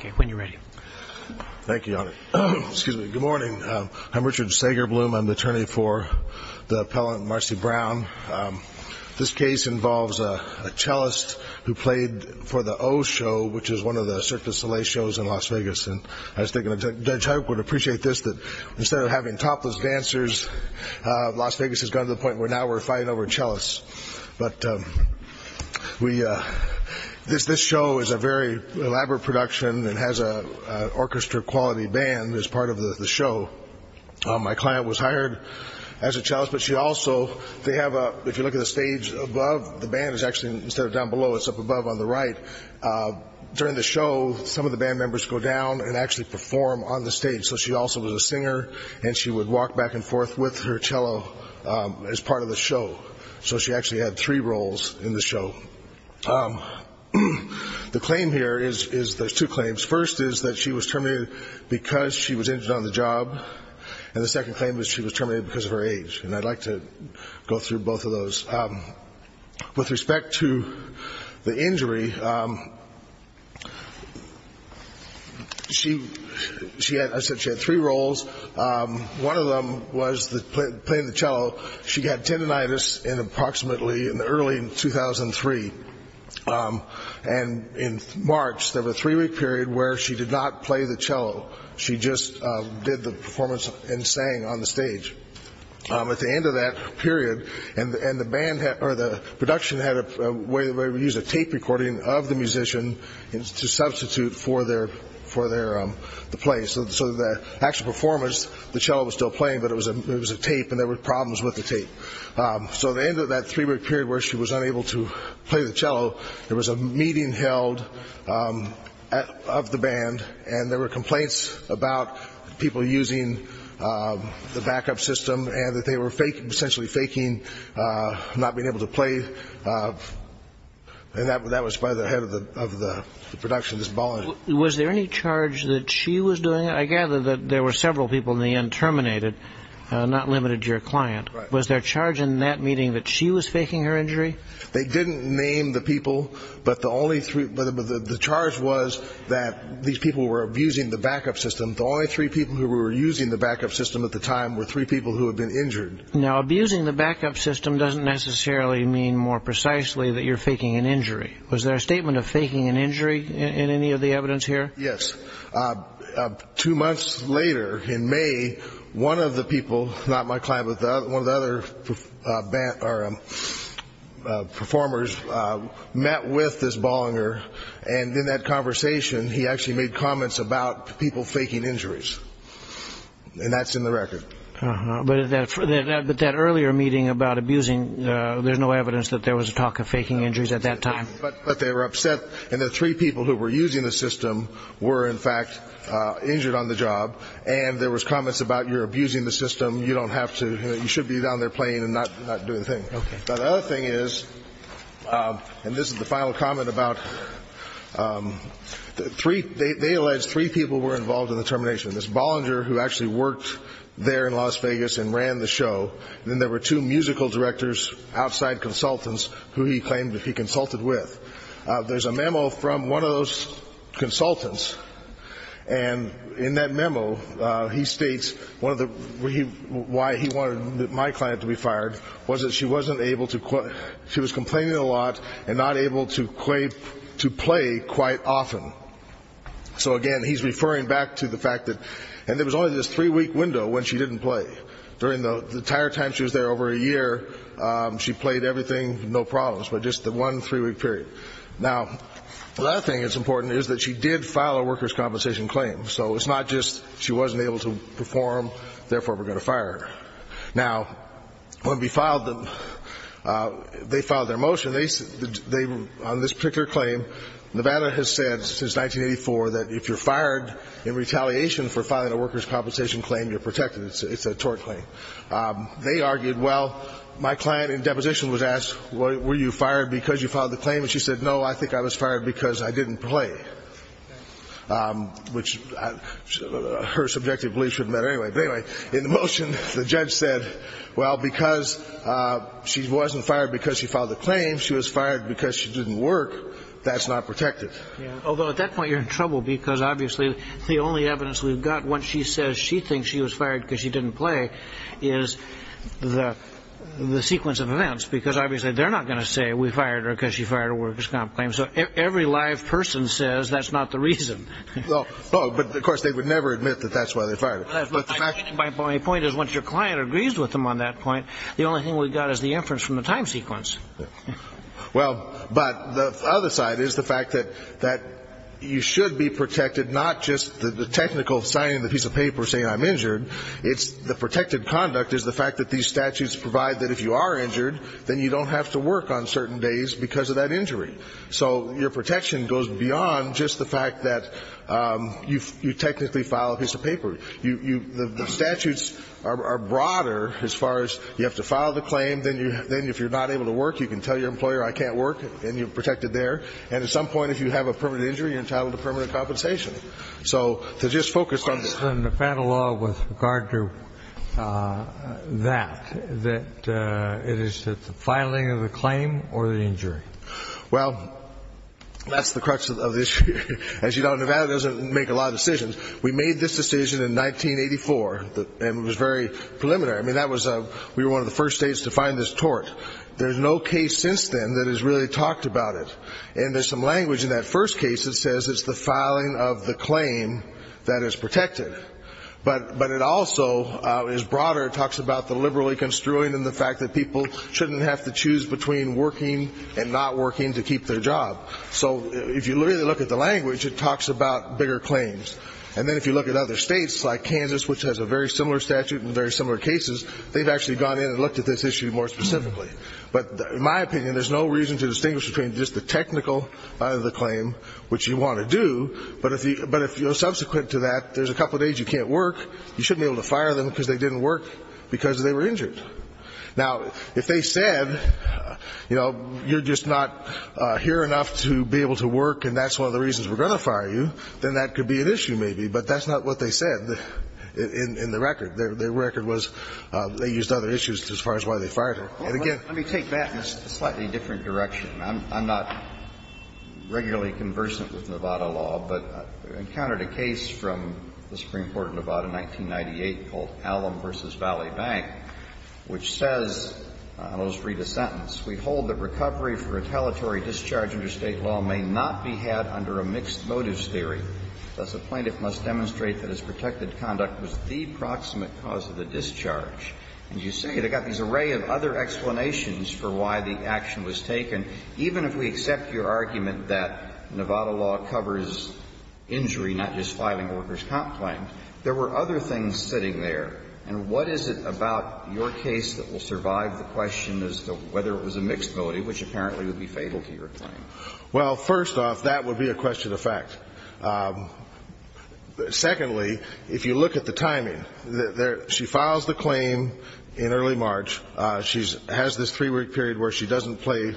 Okay, when you're ready. Thank you, Your Honor. Excuse me. Good morning. I'm Richard Sagerbloom. I'm the attorney for the appellant Marcy Brown. This case involves a cellist who played for the O Show, which is one of the Cirque De Soleil shows in Las Vegas, and I was thinking that Judge Huyck would appreciate this, that instead of having topless dancers, Las Vegas has gone to the point where now we're fighting over a cellist. But this show is a very elaborate production and has an orchestra-quality band as part of the show. My client was hired as a cellist, but she also, they have a, if you look at the stage above, the band is actually, instead of down below, it's up above on the right. During the show, some of the band members go down and actually perform on the stage, so she also was a singer, and she would walk back and forth with her cello as part of the show. So she actually had three roles in the show. The claim here is, there's two claims. First is that she was terminated because she was injured on the job, and the second claim is she was terminated because of her age, and I'd like to go through both of those. With respect to the injury, she had, I said she had three roles. One of them was playing the cello. She got tendinitis in approximately, in early 2003, and in March, there was a three-week period where she did not play the cello. She just did the performance and sang on the stage. At the end of that period, and the band, or the production had a way where we used a tape recording of the musician to substitute for the play. So the actual performance, the cello was still playing, but it was a tape and there were problems with the tape. So at the end of that three-week period where she was unable to play the cello, there was a meeting held of the band, and there were complaints about people using the backup system and that they were essentially faking not being able to play, and that was by the head of the production, this ballerina. Was there any charge that she was doing it? I gather that there were several people in the end terminated, not limited to your client. Was there charge in that meeting that she was faking her injury? They didn't name the people, but the charge was that these people were abusing the backup system. The only three people who were using the backup system at the time were three people who had been injured. Now, abusing the backup system doesn't necessarily mean more precisely that you're faking an injury. Was there a statement of faking an injury in any of the evidence here? Yes. Two months later, in May, one of the people, not my client, but one of the other performers met with this ballerina, and in that conversation, he actually made comments about people faking injuries, and that's in the record. But that earlier meeting about abusing, there's no evidence that there was a talk of faking injuries at that time. But they were upset, and the three people who were using the system were, in fact, injured on the job, and there was comments about, you're abusing the system, you don't have to, you should be down there playing and not doing things. Now, the other thing is, and this is the final comment about, they allege three people were involved in the termination. There's Bollinger, who actually worked there in Las Vegas and ran the show, and then there were two musical directors, outside consultants, who he claimed that he consulted with. There's a memo from one of those consultants, and in that memo, he states why he wanted my client to be fired was that she wasn't able to, she was complaining a lot and not able to play quite often. So again, he's referring back to the fact that, and there was only this three-week window when she didn't play. During the entire time she was there, over a year, she played everything, no problems, but just the one three-week period. Now, the other thing that's important is that she did file a workers' compensation claim. So it's not just she wasn't able to perform, therefore we're going to fire her. Now, when we filed them, they filed their motion, on this particular claim, Nevada has said since 1984 that if you're fired in retaliation for filing a workers' compensation claim, you're protected. It's a tort claim. They argued, well, my client in deposition was asked, were you fired because you filed the claim? And she said, no, I think I was fired because I didn't play, which her subjective belief shouldn't matter anyway. But anyway, in the motion, the judge said, well, because she wasn't fired because she filed the claim, she was fired because she didn't work. That's not protected. Although, at that point, you're in trouble because, obviously, the only evidence we've think she was fired because she didn't play is the sequence of events, because, obviously, they're not going to say we fired her because she fired a workers' comp claim. So every live person says that's not the reason. Well, but, of course, they would never admit that that's why they fired her. My point is, once your client agrees with them on that point, the only thing we've got is the inference from the time sequence. Well, but the other side is the fact that you should be protected, not just the technical signing of the piece of paper saying I'm injured. It's the protected conduct is the fact that these statutes provide that if you are injured, then you don't have to work on certain days because of that injury. So your protection goes beyond just the fact that you technically file a piece of paper. The statutes are broader as far as you have to file the claim, then if you're not able to work, you can tell your employer I can't work, and you're protected there. And at some point, if you have a permanent injury, you're entitled to permanent compensation. So to just focus on the- What's the Nevada law with regard to that, that it is the filing of the claim or the injury? Well, that's the crux of the issue. As you know, Nevada doesn't make a lot of decisions. We made this decision in 1984, and it was very preliminary. I mean, we were one of the first states to find this tort. There's no case since then that has really talked about it. And there's some language in that first case that says it's the filing of the claim that is protected. But it also is broader. It talks about the liberally construing and the fact that people shouldn't have to choose between working and not working to keep their job. So if you really look at the language, it talks about bigger claims. And then if you look at other states like Kansas, which has a very similar statute and very similar cases, they've actually gone in and looked at this issue more specifically. But in my opinion, there's no reason to distinguish between just the technical of the claim, which you want to do, but if you're subsequent to that, there's a couple of days you can't work. You shouldn't be able to fire them because they didn't work because they were injured. Now, if they said, you know, you're just not here enough to be able to work, and that's one of the reasons we're going to fire you, then that could be an issue maybe. But that's not what they said in the record. Their record was they used other issues as far as why they fired her. And again, let me take that in a slightly different direction. I'm not regularly conversant with Nevada law, but I encountered a case from the Supreme Court of Nevada in 1998 called Allum v. Valley Bank, which says, and I'll just read a sentence. We hold that recovery for retaliatory discharge under State law may not be had under a mixed motives theory. Thus, a plaintiff must demonstrate that his protected conduct was the proximate cause of the discharge. And you say they've got this array of other explanations for why the action was taken. Even if we accept your argument that Nevada law covers injury, not just filing a worker's comp claim, there were other things sitting there. And what is it about your case that will survive the question as to whether it was a mixed motive, which apparently would be fatal to your claim? Well, first off, that would be a question of fact. Secondly, if you look at the timing, she files the claim in early March. She has this three-week period where she doesn't play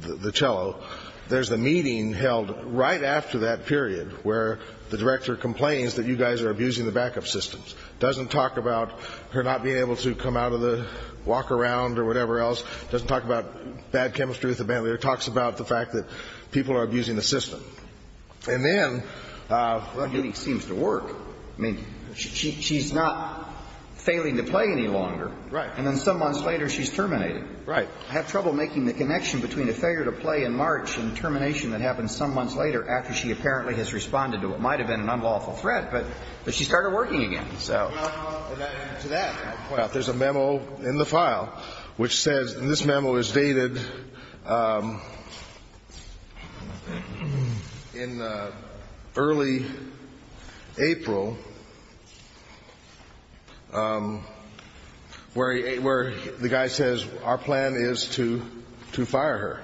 the cello. There's a meeting held right after that period where the director complains that you guys are abusing the backup systems. Doesn't talk about her not being able to come out of the walk around or whatever else. Doesn't talk about bad chemistry with the band leader. Talks about the fact that people are abusing the system. And then the meeting seems to work. I mean, she's not failing to play any longer. Right. And then some months later, she's terminated. Right. I have trouble making the connection between a failure to play in March and termination that happens some months later after she apparently has responded to what might have been an unlawful threat. But she started working again. So to that point. Now, there's a memo in the file which says, and this memo is dated in early April, where the guy says, our plan is to fire her.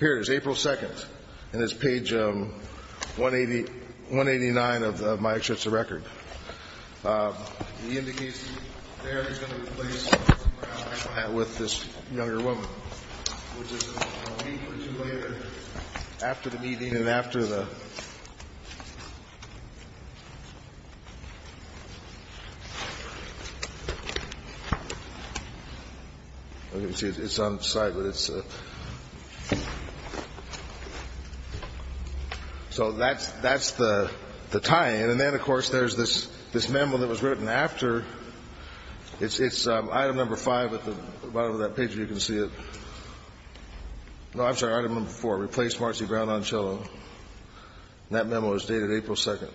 Here it is, April 2nd. And it's page 189 of my extracurricular record. The indication there is going to replace her with this younger woman, which is a week or two later after the meeting and after the. You can see it's on the side, but it's. So that's the tie in. And then, of course, there's this this memo that was written after it's item number five at the bottom of that page. You can see it. No, I'm sorry, I don't know before. Replace Marcy Brown on. So that memo is dated April 2nd.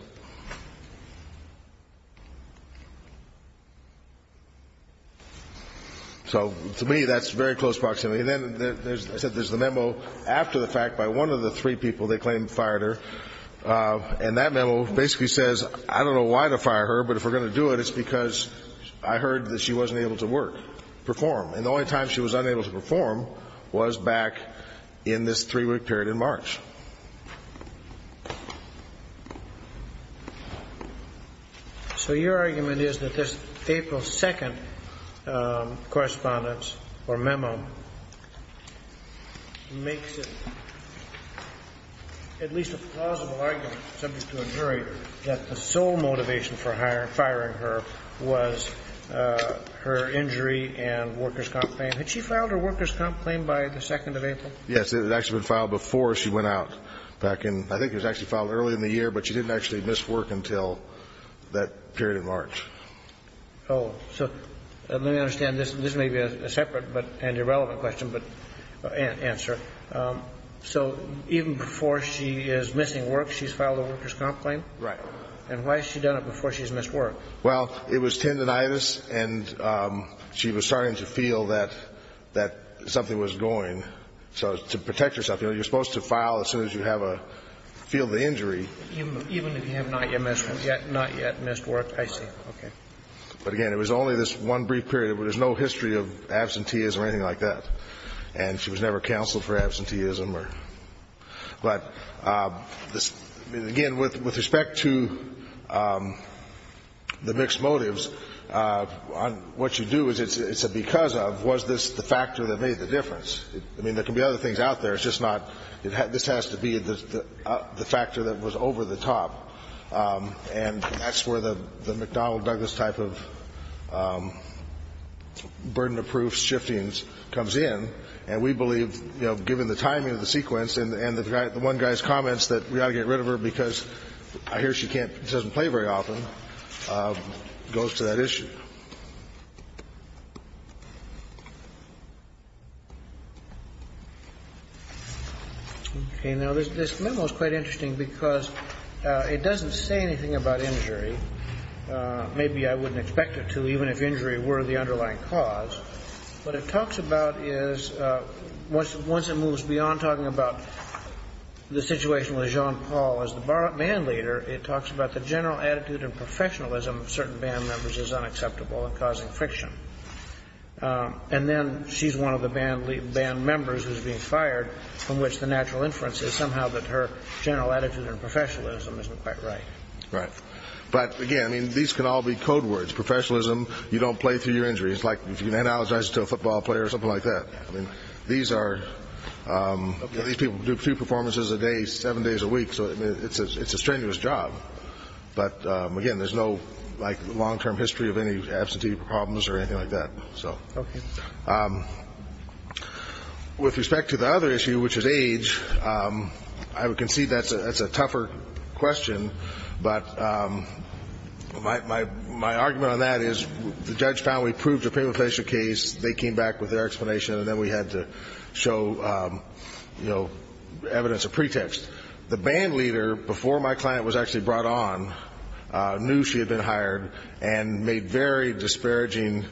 So to me, that's very close proximity. And then I said there's the memo after the fact by one of the three people they claim fired her. And that memo basically says, I don't know why to fire her, but if we're going to do it, it's because I heard that she wasn't able to work, perform. And the only time she was unable to perform was back in this three week period in March. So your argument is that this April 2nd correspondence or subject to a jury that the sole motivation for hiring, firing her was her injury and workers comp claim. Had she filed her workers comp claim by the 2nd of April? Yes, it had actually been filed before she went out back in, I think it was actually filed early in the year, but she didn't actually miss work until that period in March. Oh, so let me understand this. This may be a separate but and irrelevant question, but answer. So even before she is missing work, she's filed a workers comp claim? Right. And why has she done it before she's missed work? Well, it was tendinitis and she was starting to feel that something was going. So to protect herself, you're supposed to file as soon as you feel the injury. Even if you have not yet missed work, I see, okay. But again, it was only this one brief period where there's no history of absenteeism or anything like that. And she was never counseled for absenteeism or, but again, with respect to the mixed motives, what you do is it's a because of was this the factor that made the difference? I mean, there can be other things out there, it's just not, this has to be the factor that was over the top. And that's where the McDonnell Douglas type of burden of proof shifting comes in. And we believe, you know, given the timing of the sequence and the one guy's comments that we ought to get rid of her because I hear she can't, doesn't play very often, goes to that issue. Okay. You know, this memo is quite interesting because it doesn't say anything about injury. Maybe I wouldn't expect it to, even if injury were the underlying cause. What it talks about is once it moves beyond talking about the situation with Jean Paul as the band leader, it talks about the general attitude and professionalism of certain band members is unacceptable and causing friction. And then she's one of the band members who's being fired from which the natural inference is somehow that her general attitude and professionalism isn't quite right. Right. But again, I mean, these can all be code words. Professionalism, you don't play through your injury. It's like if you analogize it to a football player or something like that. I mean, these are, these people do two performances a day, seven days a week, so it's a strenuous job. But again, there's no, like, long-term history of any absentee problems or anything like that. So. Okay. With respect to the other issue, which is age, I would concede that's a tougher question, but my argument on that is the judge found we proved a paper facial case. They came back with their explanation, and then we had to show, you know, evidence of pretext. The band leader, before my client was actually brought on, knew she had been hired and made very disparaging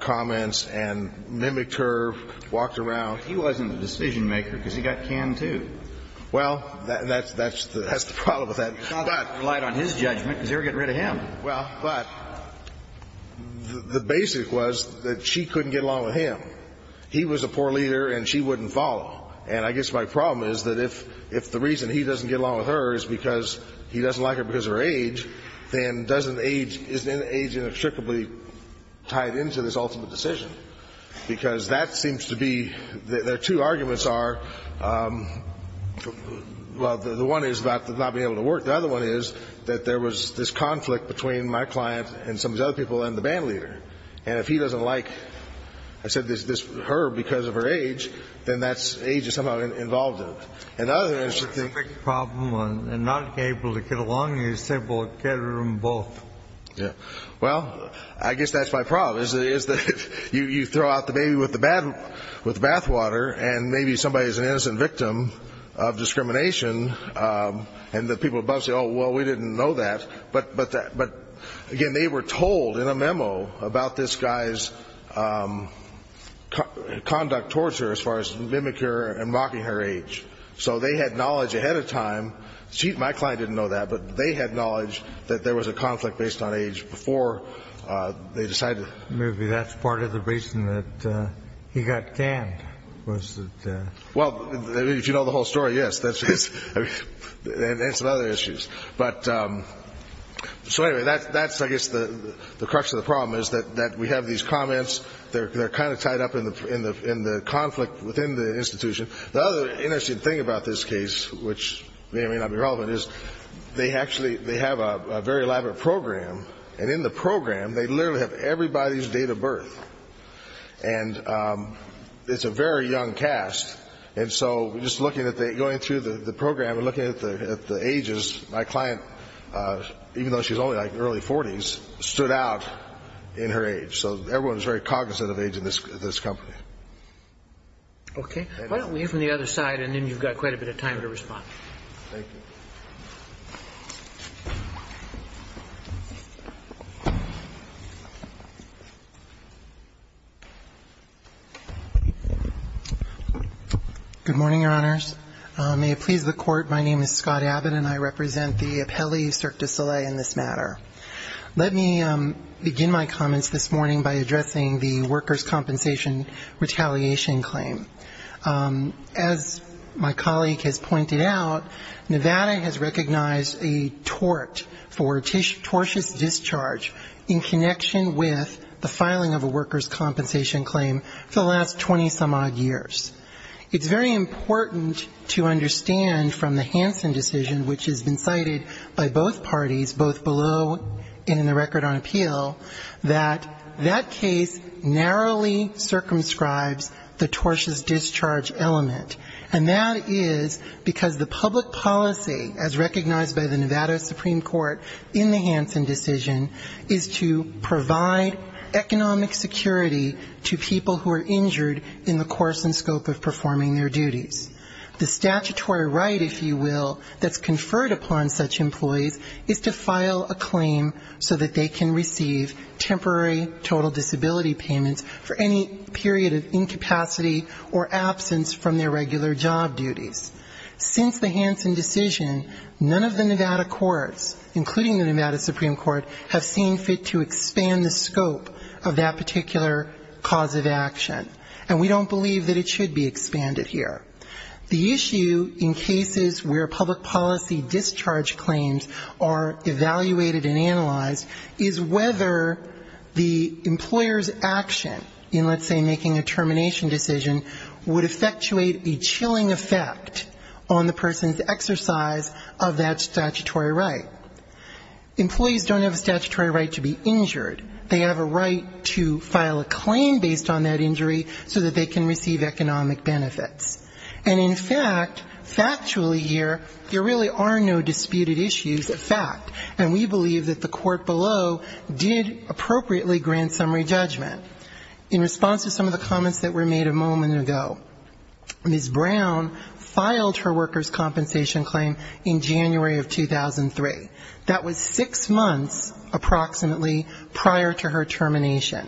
comments and mimicked her, walked around. He wasn't the decision-maker because he got canned, too. Well, that's the problem with that. He relied on his judgment because they were getting rid of him. Well, but the basic was that she couldn't get along with him. He was a poor leader, and she wouldn't follow. And I guess my problem is that if the reason he doesn't get along with her is because he doesn't like her because of her age, then doesn't age, isn't age inextricably tied into this ultimate decision? Because that seems to be, their two arguments are, well, the one is about not being able to work. The other one is that there was this conflict between my client and some of these other people and the band leader. And if he doesn't like, I said, her because of her age, then that's age is somehow involved in it. And the other is she thinks... The big problem on not being able to get along is they will get rid of them both. Yeah. Well, I guess that's my problem is that you throw out the baby with the bathwater and maybe somebody is an innocent victim of discrimination and the people above say, Well, we didn't know that. But, again, they were told in a memo about this guy's conduct towards her as far as mimic her and mocking her age. So they had knowledge ahead of time. My client didn't know that, but they had knowledge that there was a conflict based on age before they decided... Maybe that's part of the reason that he got canned was that... Well, if you know the whole story, yes, and some other issues. But, so anyway, that's, I guess, the crux of the problem is that we have these comments. They're kind of tied up in the conflict within the institution. The other interesting thing about this case, which may or may not be relevant, is they actually have a very elaborate program. And in the program, they literally have everybody's date of birth. And it's a very young cast. And so just going through the program and looking at the ages, my client, even though she's only like early 40s, stood out in her age. So everyone is very cognizant of age in this company. Okay. Why don't we hear from the other side and then you've got quite a bit of time to respond. Thank you. Good morning, Your Honors. May it please the Court, my name is Scott Abbott, and I represent the appellee Cirque du Soleil in this matter. Let me begin my comments this morning by addressing the workers' compensation retaliation claim. As my colleague has pointed out, Nevada has recognized a tort for tortious discharge in connection with the filing of a worker's compensation claim. The last 20-some-odd years. It's very important to understand from the Hansen decision, which has been cited by both parties, both below and in the record on appeal, that that case narrowly circumscribes the tortious discharge element. And that is because the public policy, as recognized by the Nevada Supreme Court in the Hansen decision, is to provide economic security to people who are injured in the course and scope of performing their duties. The statutory right, if you will, that's conferred upon such employees is to file a claim so that they can receive temporary total disability payments for any period of incapacity or absence from their regular job duties. Since the Hansen decision, none of the Nevada courts, including the Nevada Supreme Court, have seen fit to expand the scope of that particular cause of action. And we don't believe that it should be expanded here. The issue in cases where public policy discharge claims are evaluated and analyzed is whether the employer's action in, let's say, making a termination decision, would effectuate a chilling effect on the person's exercise of that statutory right. Employees don't have a statutory right to be injured. They have a right to file a claim based on that injury so that they can receive economic benefits. And in fact, factually here, there really are no disputed issues of fact. And we believe that the court below did appropriately grant summary judgment. In response to some of the comments that were made a moment ago, Ms. Brown filed her workers' compensation claim in January of 2003. That was six months approximately prior to her termination.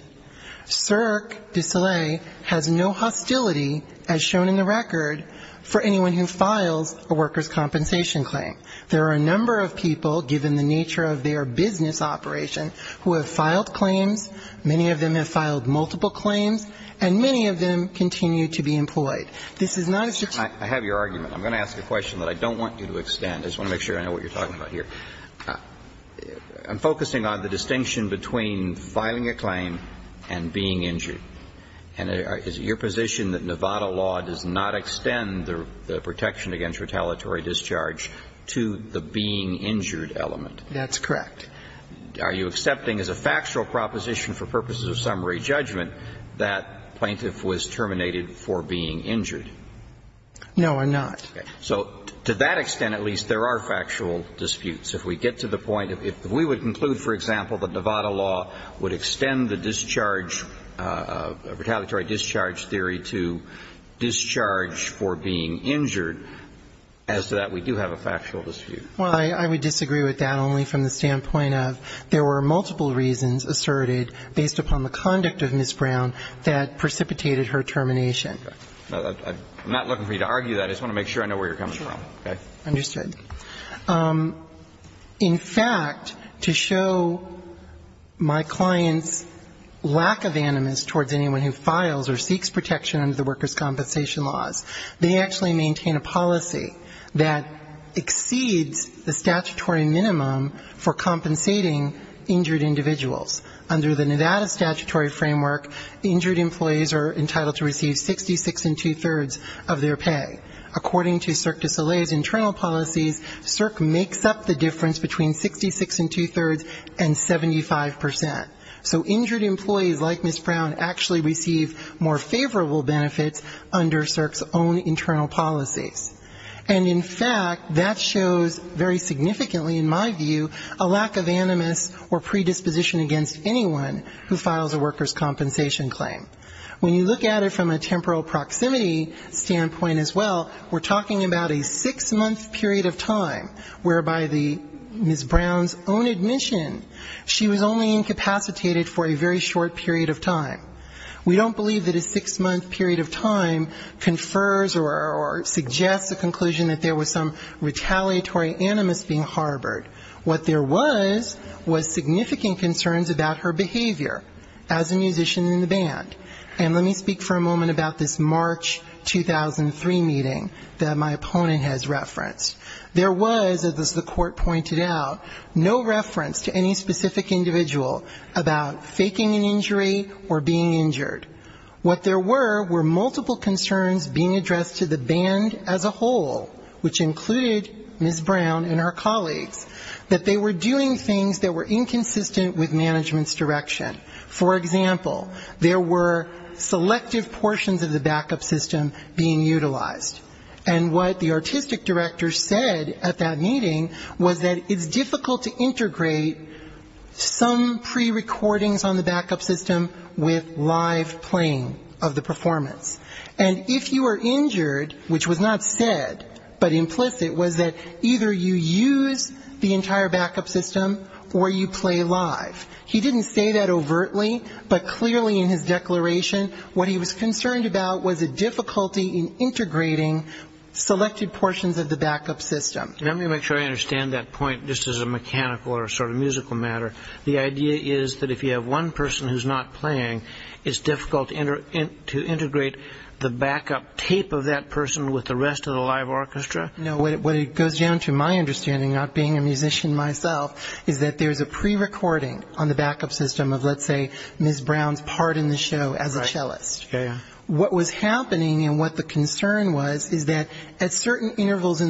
CERC de Soleil has no hostility, as shown in the record, for anyone who files a workers' compensation claim. There are a number of people, given the nature of their business operation, who have filed claims. Many of them have filed multiple claims. And many of them continue to be employed. This is not a statutory right. I have your argument. I'm going to ask a question that I don't want you to extend. I just want to make sure I know what you're talking about here. I'm focusing on the distinction between filing a claim and being injured. And is it your position that Nevada law does not extend the protection against retaliatory discharge to the being injured element? That's correct. Are you accepting as a factual proposition for purposes of summary judgment that plaintiff was terminated for being injured? No, I'm not. Okay. So to that extent, at least, there are factual disputes. If we get to the point, if we would conclude, for example, that Nevada law would extend the discharge, retaliatory discharge theory to discharge for being injured, as to that, we do have a factual dispute. Well, I would disagree with that only from the standpoint of there were multiple reasons asserted based upon the conduct of Ms. Brown that precipitated her termination. I'm not looking for you to argue that. I just want to make sure I know where you're coming from. Okay. Understood. In fact, to show my client's lack of animus towards anyone who files or seeks protection under the workers' compensation laws, they actually maintain a policy that exceeds the statutory minimum for compensating injured individuals. Under the Nevada statutory framework, injured employees are entitled to receive 66 and two-thirds of their pay. According to Cirque du Soleil's internal policies, Cirque makes up the difference between 66 and two-thirds and 75 percent. So injured employees, like Ms. Brown, actually receive more favorable benefits under Cirque's own internal policies. And in fact, that shows very significantly, in my view, a lack of animus or predisposition against anyone who files a workers' compensation claim. When you look at it from a temporal proximity standpoint as well, we're talking about a six-month period of time whereby Ms. Brown's own admission, she was only incapacitated for a very short period of time. We don't believe that a six-month period of time confers or suggests a conclusion that there was some retaliatory animus being harbored. What there was was significant concerns about her behavior as a musician in the band. And let me speak for a moment about this March 2003 meeting that my opponent has referenced. There was, as the court pointed out, no reference to any specific individual about faking an injury or being injured. What there were were multiple concerns being addressed to the band as a whole, which included Ms. Brown and her colleagues, that they were doing things that were inconsistent with management's direction. For example, there were selective portions of the backup system being utilized. And what the artistic director said at that meeting was that it's difficult to integrate some prerecordings on the backup system with live playing of the orchestra, but implicit was that either you use the entire backup system or you play live. He didn't say that overtly, but clearly in his declaration what he was concerned about was a difficulty in integrating selected portions of the backup system. Let me make sure I understand that point just as a mechanical or sort of musical matter. The idea is that if you have one person who's not playing, it's difficult to integrate the backup tape of that person with the rest of the live orchestra? No, what it goes down to, my understanding, not being a musician myself, is that there's a prerecording on the backup system of, let's say, Ms. Brown's part in the show as a cellist. What was happening and what the concern was is that at certain intervals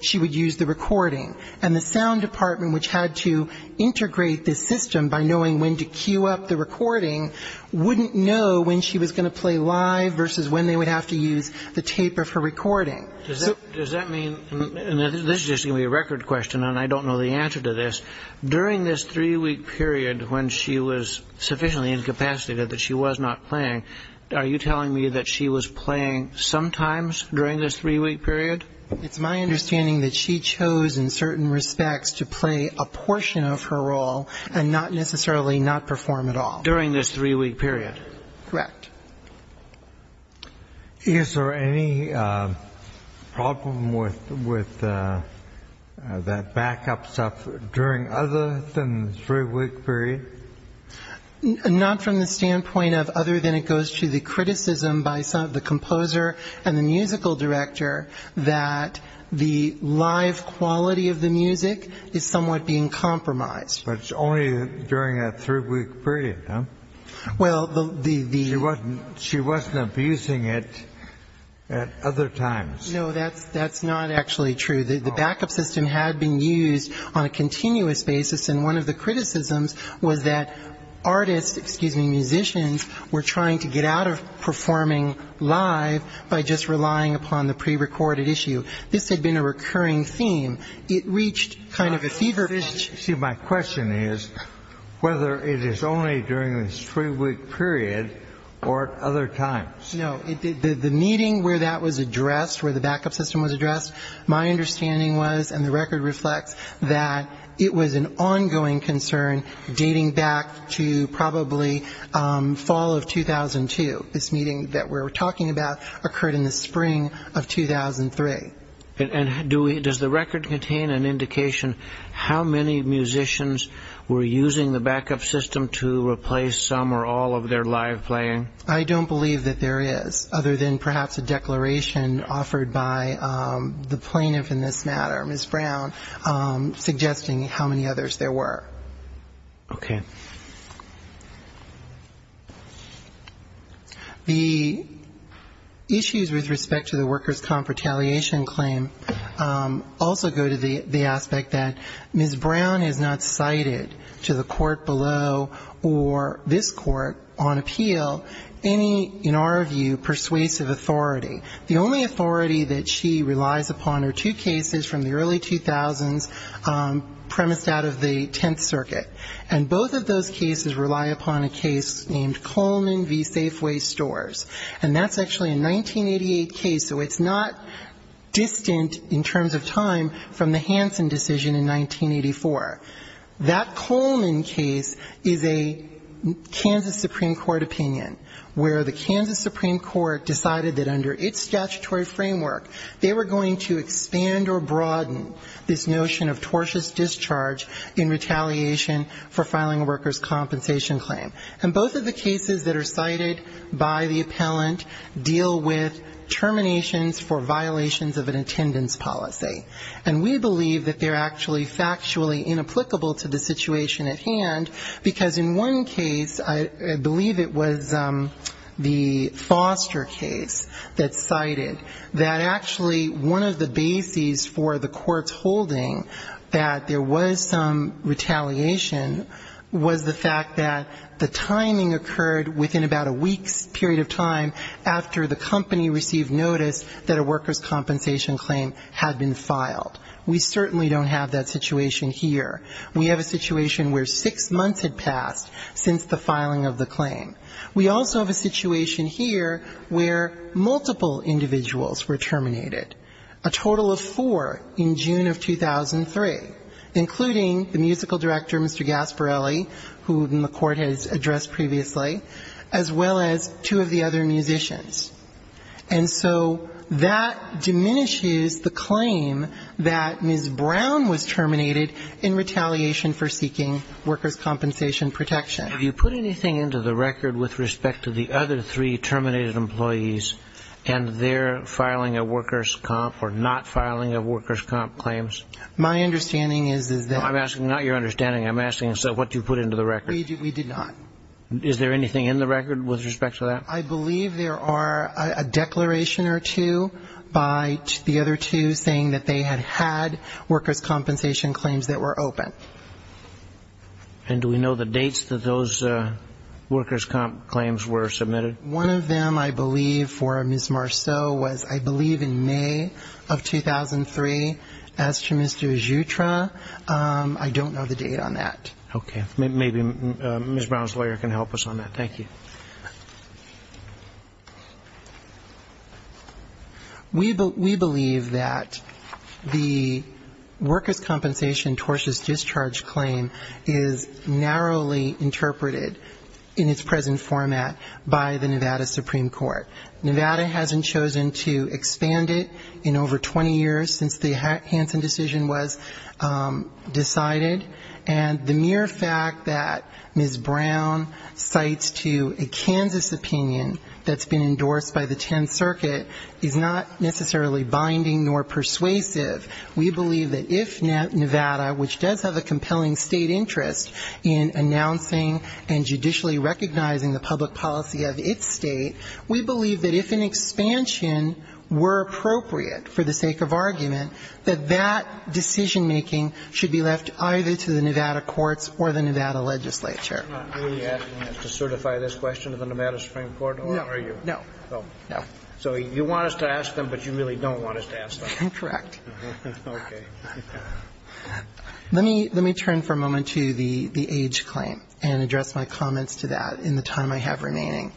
she would use the recording. And the sound department, which had to integrate this system by knowing when to cue up the recording, wouldn't know when she was going to play live versus when they would have to use the tape of her recording. Does that mean, and this is just going to be a record question, and I don't know the answer to this, during this three-week period when she was sufficiently incapacitated that she was not playing, are you telling me that she was playing sometimes during this three-week period? It's my understanding that she chose in certain respects to play a portion of her role and not necessarily not perform at all. During this three-week period? Correct. Is there any problem with that backup stuff during other than the three-week period? Not from the standpoint of other than it goes to the criticism by the composer and the musical director that the live quality of the music is somewhat being compromised. But it's only during that three-week period, huh? Well, the... She wasn't abusing it at other times. No, that's not actually true. The backup system had been used on a continuous basis, and one of the criticisms was that artists, excuse me, musicians were trying to get out of performing live by just relying upon the prerecorded issue. This had been a recurring theme. It reached kind of a fever pitch. See, my question is whether it is only during this three-week period or at other times. No, the meeting where that was addressed, where the backup system was addressed, my understanding was, and the record reflects, that it was an ongoing concern dating back to probably fall of 2002. This meeting that we're talking about occurred in the spring of 2003. And does the record contain an indication how many musicians were using the backup system to replace some or all of their live playing? I don't believe that there is, other than perhaps a declaration offered by the plaintiff in this matter, Ms. Brown, suggesting how many others there were. Okay. The issues with respect to the workers' comp retaliation claim also go to the aspect that the court below or this court on appeal, any, in our view, persuasive authority. The only authority that she relies upon are two cases from the early 2000s premised out of the 10th Circuit. And both of those cases rely upon a case named Coleman v. Safeway Stores. And that's actually a 1988 case, so it's not distant in terms of time from the Hansen decision in 1984. That Coleman case is a Kansas Supreme Court opinion, where the Kansas Supreme Court decided that under its statutory framework, they were going to expand or broaden this notion of tortious discharge in retaliation for filing a workers' compensation claim. And both of the cases that are cited by the appellant deal with terminations for violations of an attendance policy. And we believe that they're actually factually inapplicable to the situation at hand, because in one case, I believe it was the Foster case that cited that actually one of the bases for the court's holding that there was some retaliation was the fact that the timing occurred within about a week's period of time after the company received notice that a worker had filed. We certainly don't have that situation here. We have a situation where six months had passed since the filing of the claim. We also have a situation here where multiple individuals were terminated, a total of four in June of 2003, including the musical director, Mr. Gasparelli, who the court has addressed previously, as well as two of the other musicians. And we have a situation that Ms. Brown was terminated in retaliation for seeking workers' compensation protection. Have you put anything into the record with respect to the other three terminated employees and their filing of workers' comp or not filing of workers' comp claims? My understanding is that we did not. Is there anything in the record with respect to that? I believe there are a declaration or two by the other two saying that they had had workers' compensation claims that were open. And do we know the dates that those workers' comp claims were submitted? One of them, I believe, for Ms. Marceau was, I believe, in May of 2003, as to Mr. Jutra. I don't know the date on that. Okay. Maybe Ms. Brown's lawyer can help us on that. Thank you. We believe that the workers' compensation tortious discharge claim is narrowly interpreted in its present format by the Nevada Supreme Court. Nevada hasn't chosen to expand it in over 20 years since the Hansen decision was decided. And the mere fact that Ms. Brown cites to a Kansas opinion that's been endorsed by the Tenth Circuit is not necessarily binding nor persuasive. We believe that if Nevada, which does have a compelling state interest in announcing and judicially recognizing the public policy of its state, we believe that if an expansion were appropriate for the sake of argument, that that decision-making should be left either to the Nevada courts or the Nevada legislature. You're not really asking us to certify this question to the Nevada Supreme Court, are you? No. No. No. So you want us to ask them, but you really don't want us to ask them. I'm correct. Okay. Let me turn for a moment to the age claim and address my comments to that in the time I have remaining.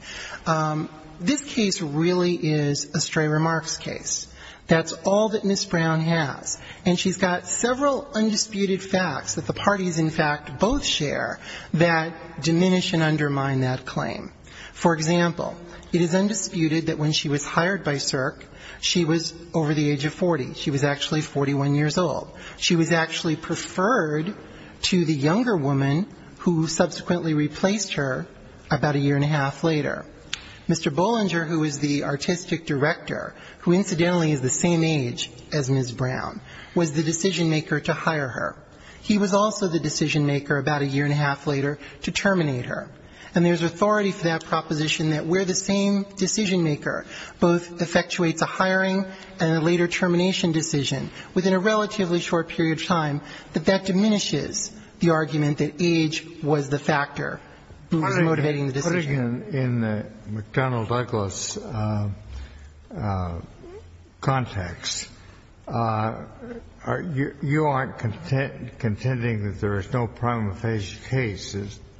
This case really is a stray remarks case. That's all that Ms. Brown has. And she's got several undisputed facts that the parties in fact both share that diminish and undermine that claim. For example, it is undisputed that when she was hired by CERC, she was over the age of 40. She was actually 41 years old. She was actually preferred to the younger woman who subsequently replaced her about a year and a half later. Mr. Bollinger, who is the artistic director, who incidentally is the same age as Ms. Brown, was the decision-maker to hire her. He was also the decision-maker about a year and a half later to terminate her. And there's authority for that proposition that where the same decision-maker both effectuates a hiring and a later termination decision within a relatively short period of time, that that diminishes the argument that age was the factor who was motivating the decision. In the McDonnell-Douglas context, you aren't contending that there is no prima facie case,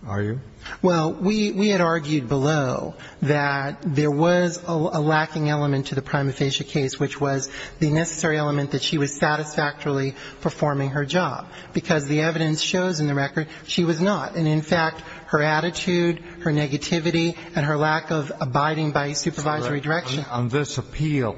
are you? Well, we had argued below that there was a lacking element to the prima facie case, which was the necessary element that she was satisfactorily performing her job, because the evidence shows in the record she was not. And, in fact, her attitude, her negativity, and her lack of abiding by supervisory direction. On this appeal,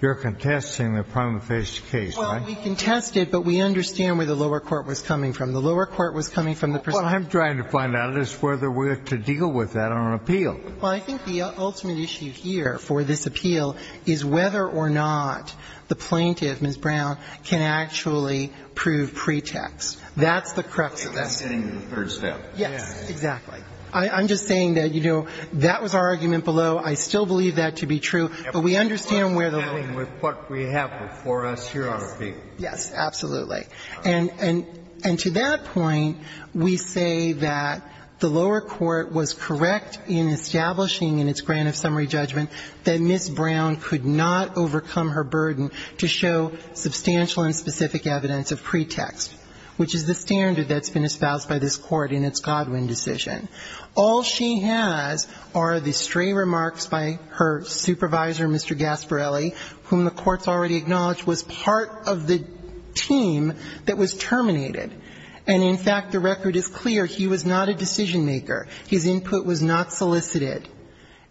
you're contesting the prima facie case, right? Well, we contested, but we understand where the lower court was coming from. The lower court was coming from the prison. What I'm trying to find out is whether we're to deal with that on an appeal. Well, I think the ultimate issue here for this appeal is whether or not the plaintiff, Ms. Brown, can actually prove pretext. That's the crux of this. If that's getting to the third step. Yes, exactly. I'm just saying that, you know, that was our argument below. I still believe that to be true. But we understand where the lower court was coming from. If we're to deal with what we have before us here on the appeal. Yes, absolutely. And to that point, we say that the lower court was correct in establishing in its grant of summary judgment that Ms. Brown could not overcome her burden to show substantial and specific evidence of pretext. Which is the standard that's been espoused by this Court in its Godwin decision. All she has are the stray remarks by her supervisor, Mr. Gasparelli, whom the Court's already acknowledged was part of the team that was terminated. And, in fact, the record is clear. He was not a decision maker. His input was not solicited.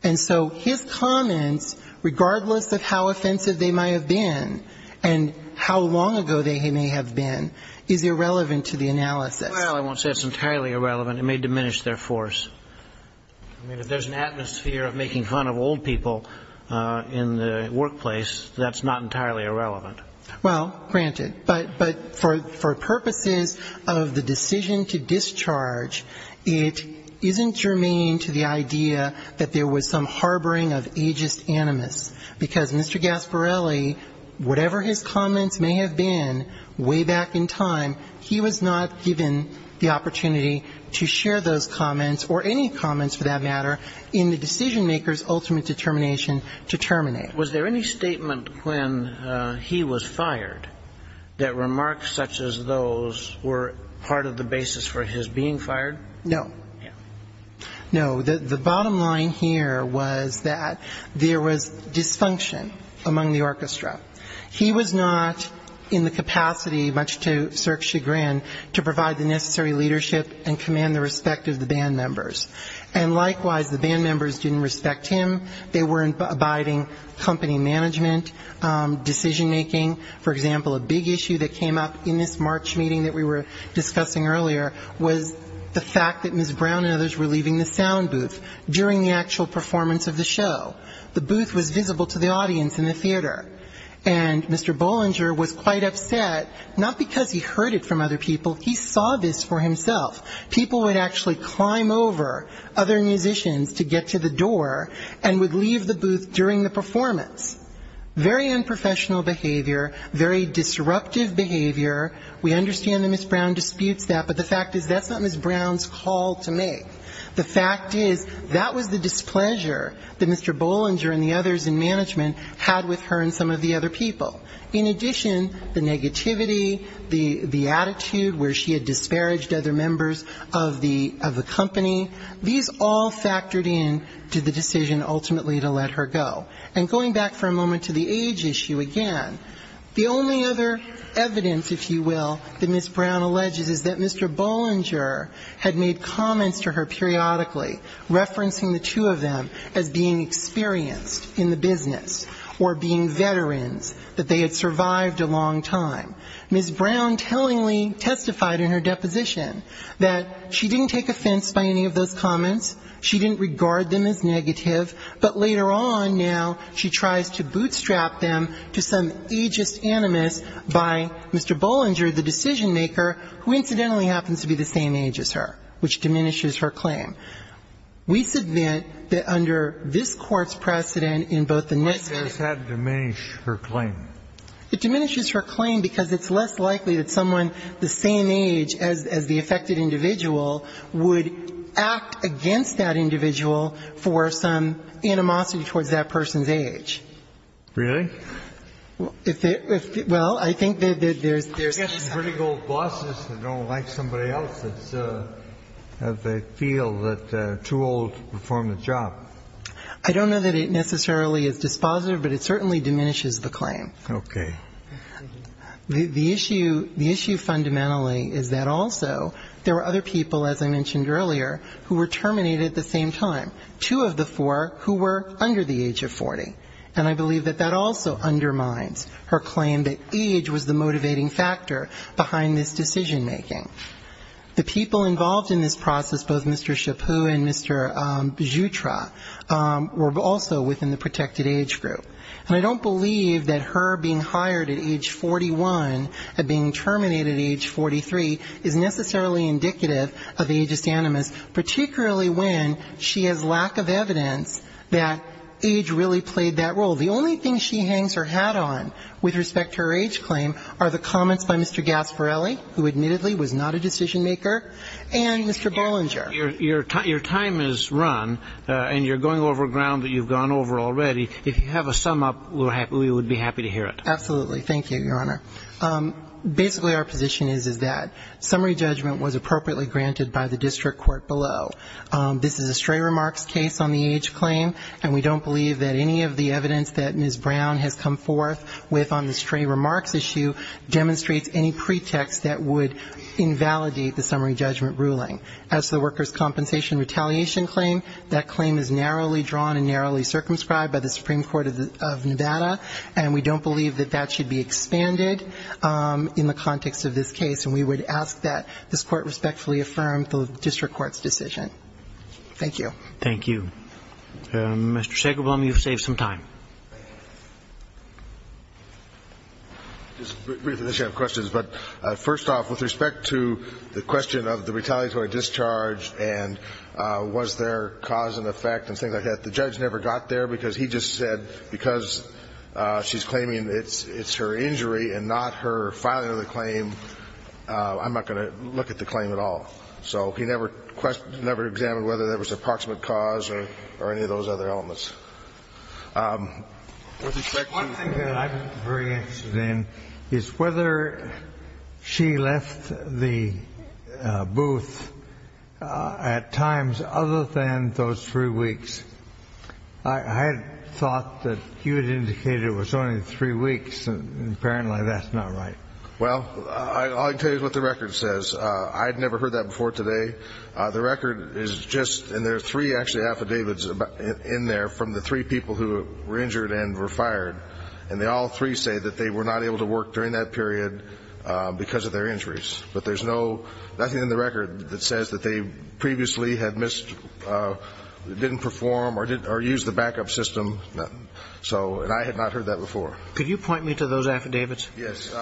And so his comments, regardless of how offensive they might have been and how long ago they may have been, is irrelevant to the analysis. Well, I won't say it's entirely irrelevant. It may diminish their force. I mean, if there's an atmosphere of making fun of old people in the workplace, that's not entirely irrelevant. Well, granted. But for purposes of the decision to discharge, it isn't germane to the idea that there was some harboring of ageist animus. Because Mr. Gasparelli, whatever his comments may have been way back in time, he was not given the opportunity to share those comments or any comments, for that matter, in the decision maker's ultimate determination to terminate. Was there any statement when he was fired that remarks such as those were part of the basis for his being fired? No. No. The bottom line here was that there was dysfunction among the orchestra. He was not in the capacity, much to Sirk's chagrin, to provide the necessary leadership and command the respect of the band members. And likewise, the band members didn't respect him. They weren't abiding company management, decision making. For example, a big issue that came up in this March meeting that we were discussing earlier was the fact that Ms. Brown and others were leaving the sound booth during the actual performance of the show. The booth was visible to the audience in the theater. And Mr. Bollinger was quite upset, not because he heard it from other people. He saw this for himself. People would actually climb over other musicians to get to the door and would leave the booth during the performance. Very unprofessional behavior, very disruptive behavior. We understand that Ms. Brown disputes that, but the fact is that's not Ms. Brown's call to make. The fact is that was the displeasure that Mr. Bollinger and the others in management had with her and some of the other people. In addition, the negativity, the attitude where she had disparaged other members of the company, these all factored in to the decision ultimately to let her go. And going back for a moment to the age issue again, the only other evidence, if you will, that Ms. Brown alleges is that Mr. Bollinger had made comments to her periodically, referencing the two of them as being experienced in the business, or being veterans, that they were. They had survived a long time. Ms. Brown tellingly testified in her deposition that she didn't take offense by any of those comments, she didn't regard them as negative, but later on now she tries to bootstrap them to some ageist animus by Mr. Bollinger, the decision-maker, who incidentally happens to be the same age as her, which diminishes her claim. We submit that under this Court's precedent in both the next case. Kennedy. Why does that diminish her claim? It diminishes her claim because it's less likely that someone the same age as the affected individual would act against that individual for some animosity towards that person's Really? Well, I think that there's... I don't know that it necessarily is dispositive, but it certainly diminishes the claim. Okay. The issue fundamentally is that also there were other people, as I mentioned earlier, who were terminated at the same time, two of the four who were under the age of 40. And I believe that that also undermines her claim that age was the motivating factor. The people involved in this process, both Mr. Chaput and Mr. Jutra, were also within the protected age group. And I don't believe that her being hired at age 41 and being terminated at age 43 is necessarily indicative of ageist animus, particularly when she has lack of evidence that age really played that role. The only thing she hangs her hat on with respect to her age claim are the comments by Mr. Gasparelli, who admittedly was not a decision-maker, and Mr. Bollinger. Your time has run, and you're going over ground that you've gone over already. If you have a sum-up, we would be happy to hear it. Absolutely. Thank you, Your Honor. Basically our position is, is that summary judgment was appropriately granted by the district court below. This is a stray remarks case on the age claim, and we don't believe that any of the evidence that Ms. Brown has come forth with on the stray remarks issue demonstrates any pretext that would invalidate the summary judgment ruling. As to the workers' compensation retaliation claim, that claim is narrowly drawn and narrowly circumscribed by the Supreme Court of Nevada, and we don't believe that that should be expanded in the context of this case. And we would ask that this Court respectfully affirm the district court's decision. Thank you. Thank you. Mr. Shackelborn, you've saved some time. Just briefly, I have questions. But first off, with respect to the question of the retaliatory discharge and was there cause and effect and things like that, the judge never got there because he just said, because she's claiming it's her injury and not her filing of the claim, I'm not going to look at the claim at all. So he never examined whether there was an approximate cause or any of those other elements. With respect to the question of whether she left the booth at times other than those three weeks, I had thought that you had indicated it was only three weeks, and apparently that's not right. Well, all I can tell you is what the record says. I had never heard that before today. The record is just, and there are three actually affidavits in there from the three people who were injured and were fired. And they all three say that they were not able to work during that period because of their injuries. But there's nothing in the record that says that they previously had missed, didn't perform or used the backup system, nothing. And I had not heard that before. Could you point me to those affidavits? Yes.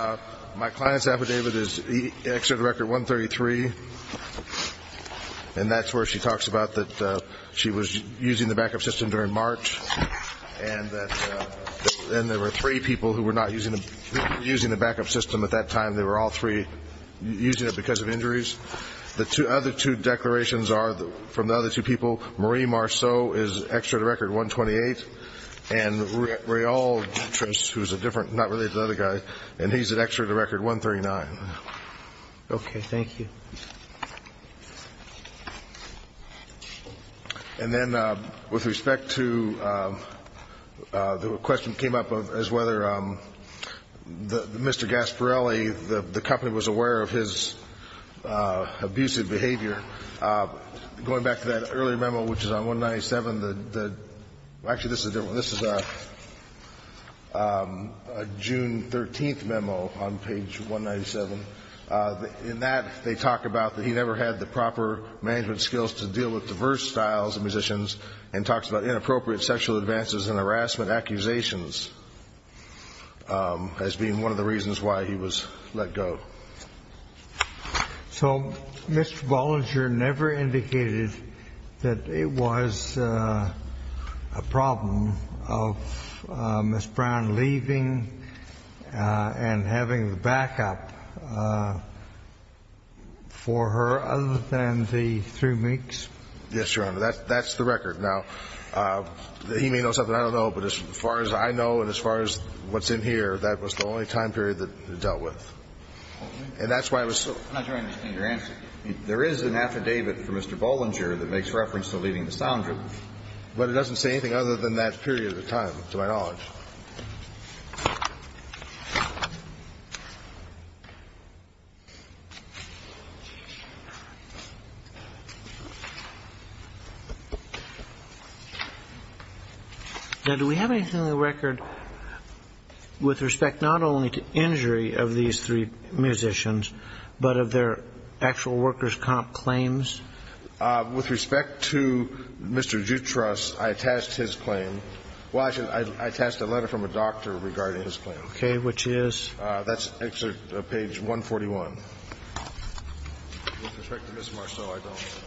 My client's affidavit is Exeter Record 133, and that's where she talks about that she was using the backup system during March, and that there were three people who were not using the backup system at that time. They were all three using it because of injuries. The other two declarations are from the other two people. Marie Marceau is Exeter Record 128. And Rayel Dutras, who's a different, not really another guy, and he's at Exeter Record 139. Okay. Thank you. And then with respect to the question came up as whether Mr. Gasparrelli, the company, was aware of his abusive behavior. Going back to that earlier memo, which is on 197, the actually this is a different one. This is a June 13th memo on page 197. In that, they talk about that he never had the proper management skills to deal with diverse styles of musicians and talks about inappropriate sexual advances and harassment accusations as being one of the reasons why he was let go. So Mr. Bollinger never indicated that it was a problem of Ms. Gasparrelli's. Yes, Your Honor. And that's the record. Now, he may know something I don't know. But as far as I know and as far as what's in here, that was the only time period that it dealt with. And that's why it was so. I'm not sure I understand your answer. There is an affidavit for Mr. Bollinger that makes reference to leaving the sound room. But it doesn't say anything other than that period of time, to my knowledge. Thank you. Now, do we have anything on the record with respect not only to injury of these three musicians, but of their actual workers' comp claims? With respect to Mr. Jutras, I attached his claim. Well, I attached a letter from a doctor regarding his claim. Okay. Which is? That's actually page 141. With respect to Ms. Marceau, I don't.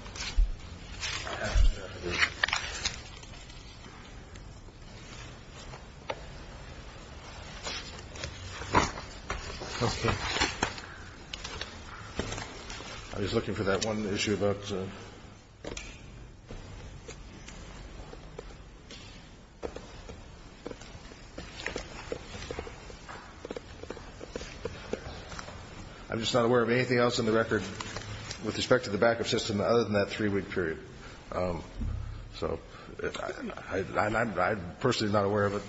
Okay. I'm just looking for that one issue about. I'm just not aware of anything else in the record with respect to the backup system other than that three-week period. So I'm personally not aware of it.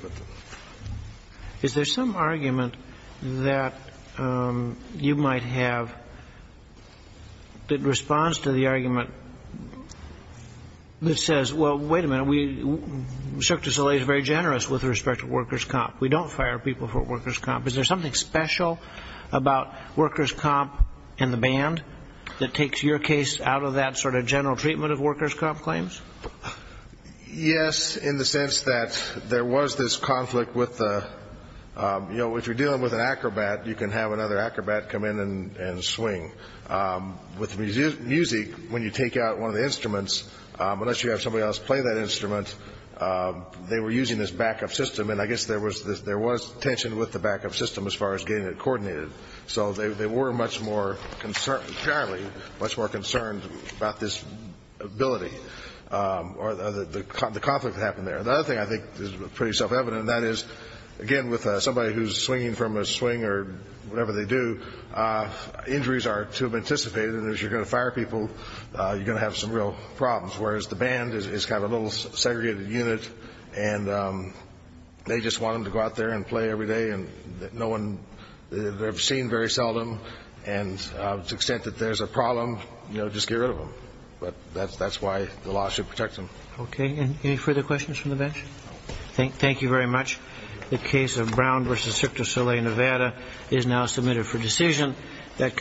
Is there some argument that you might have that responds to the argument that says, well, wait a minute, Cirque du Soleil is very generous with respect to workers' comp. We don't fire people for workers' comp. Is there something special about workers' comp and the band that takes your case out of that sort of general treatment of workers' comp claims? Yes, in the sense that there was this conflict with the, you know, if you're dealing with an acrobat, you can have another acrobat come in and swing. With music, when you take out one of the instruments, unless you have somebody else play that instrument, they were using this backup system. And I guess there was tension with the backup system as far as getting it coordinated. So they were much more concerned, fairly, much more concerned about this ability or the conflict that happened there. The other thing I think is pretty self-evident, and that is, again, with somebody who's swinging from a swing or whatever they do, injuries are too anticipated. And as you're going to fire people, you're going to have some real problems, whereas the band is kind of a little segregated unit, and they just want them to go out there and play every day. And no one, they're seen very seldom. And to the extent that there's a problem, you know, just get rid of them. But that's why the law should protect them. Okay. Any further questions from the bench? Thank you very much. The case of Brown v. Cirque du Soleil, Nevada is now submitted for decision.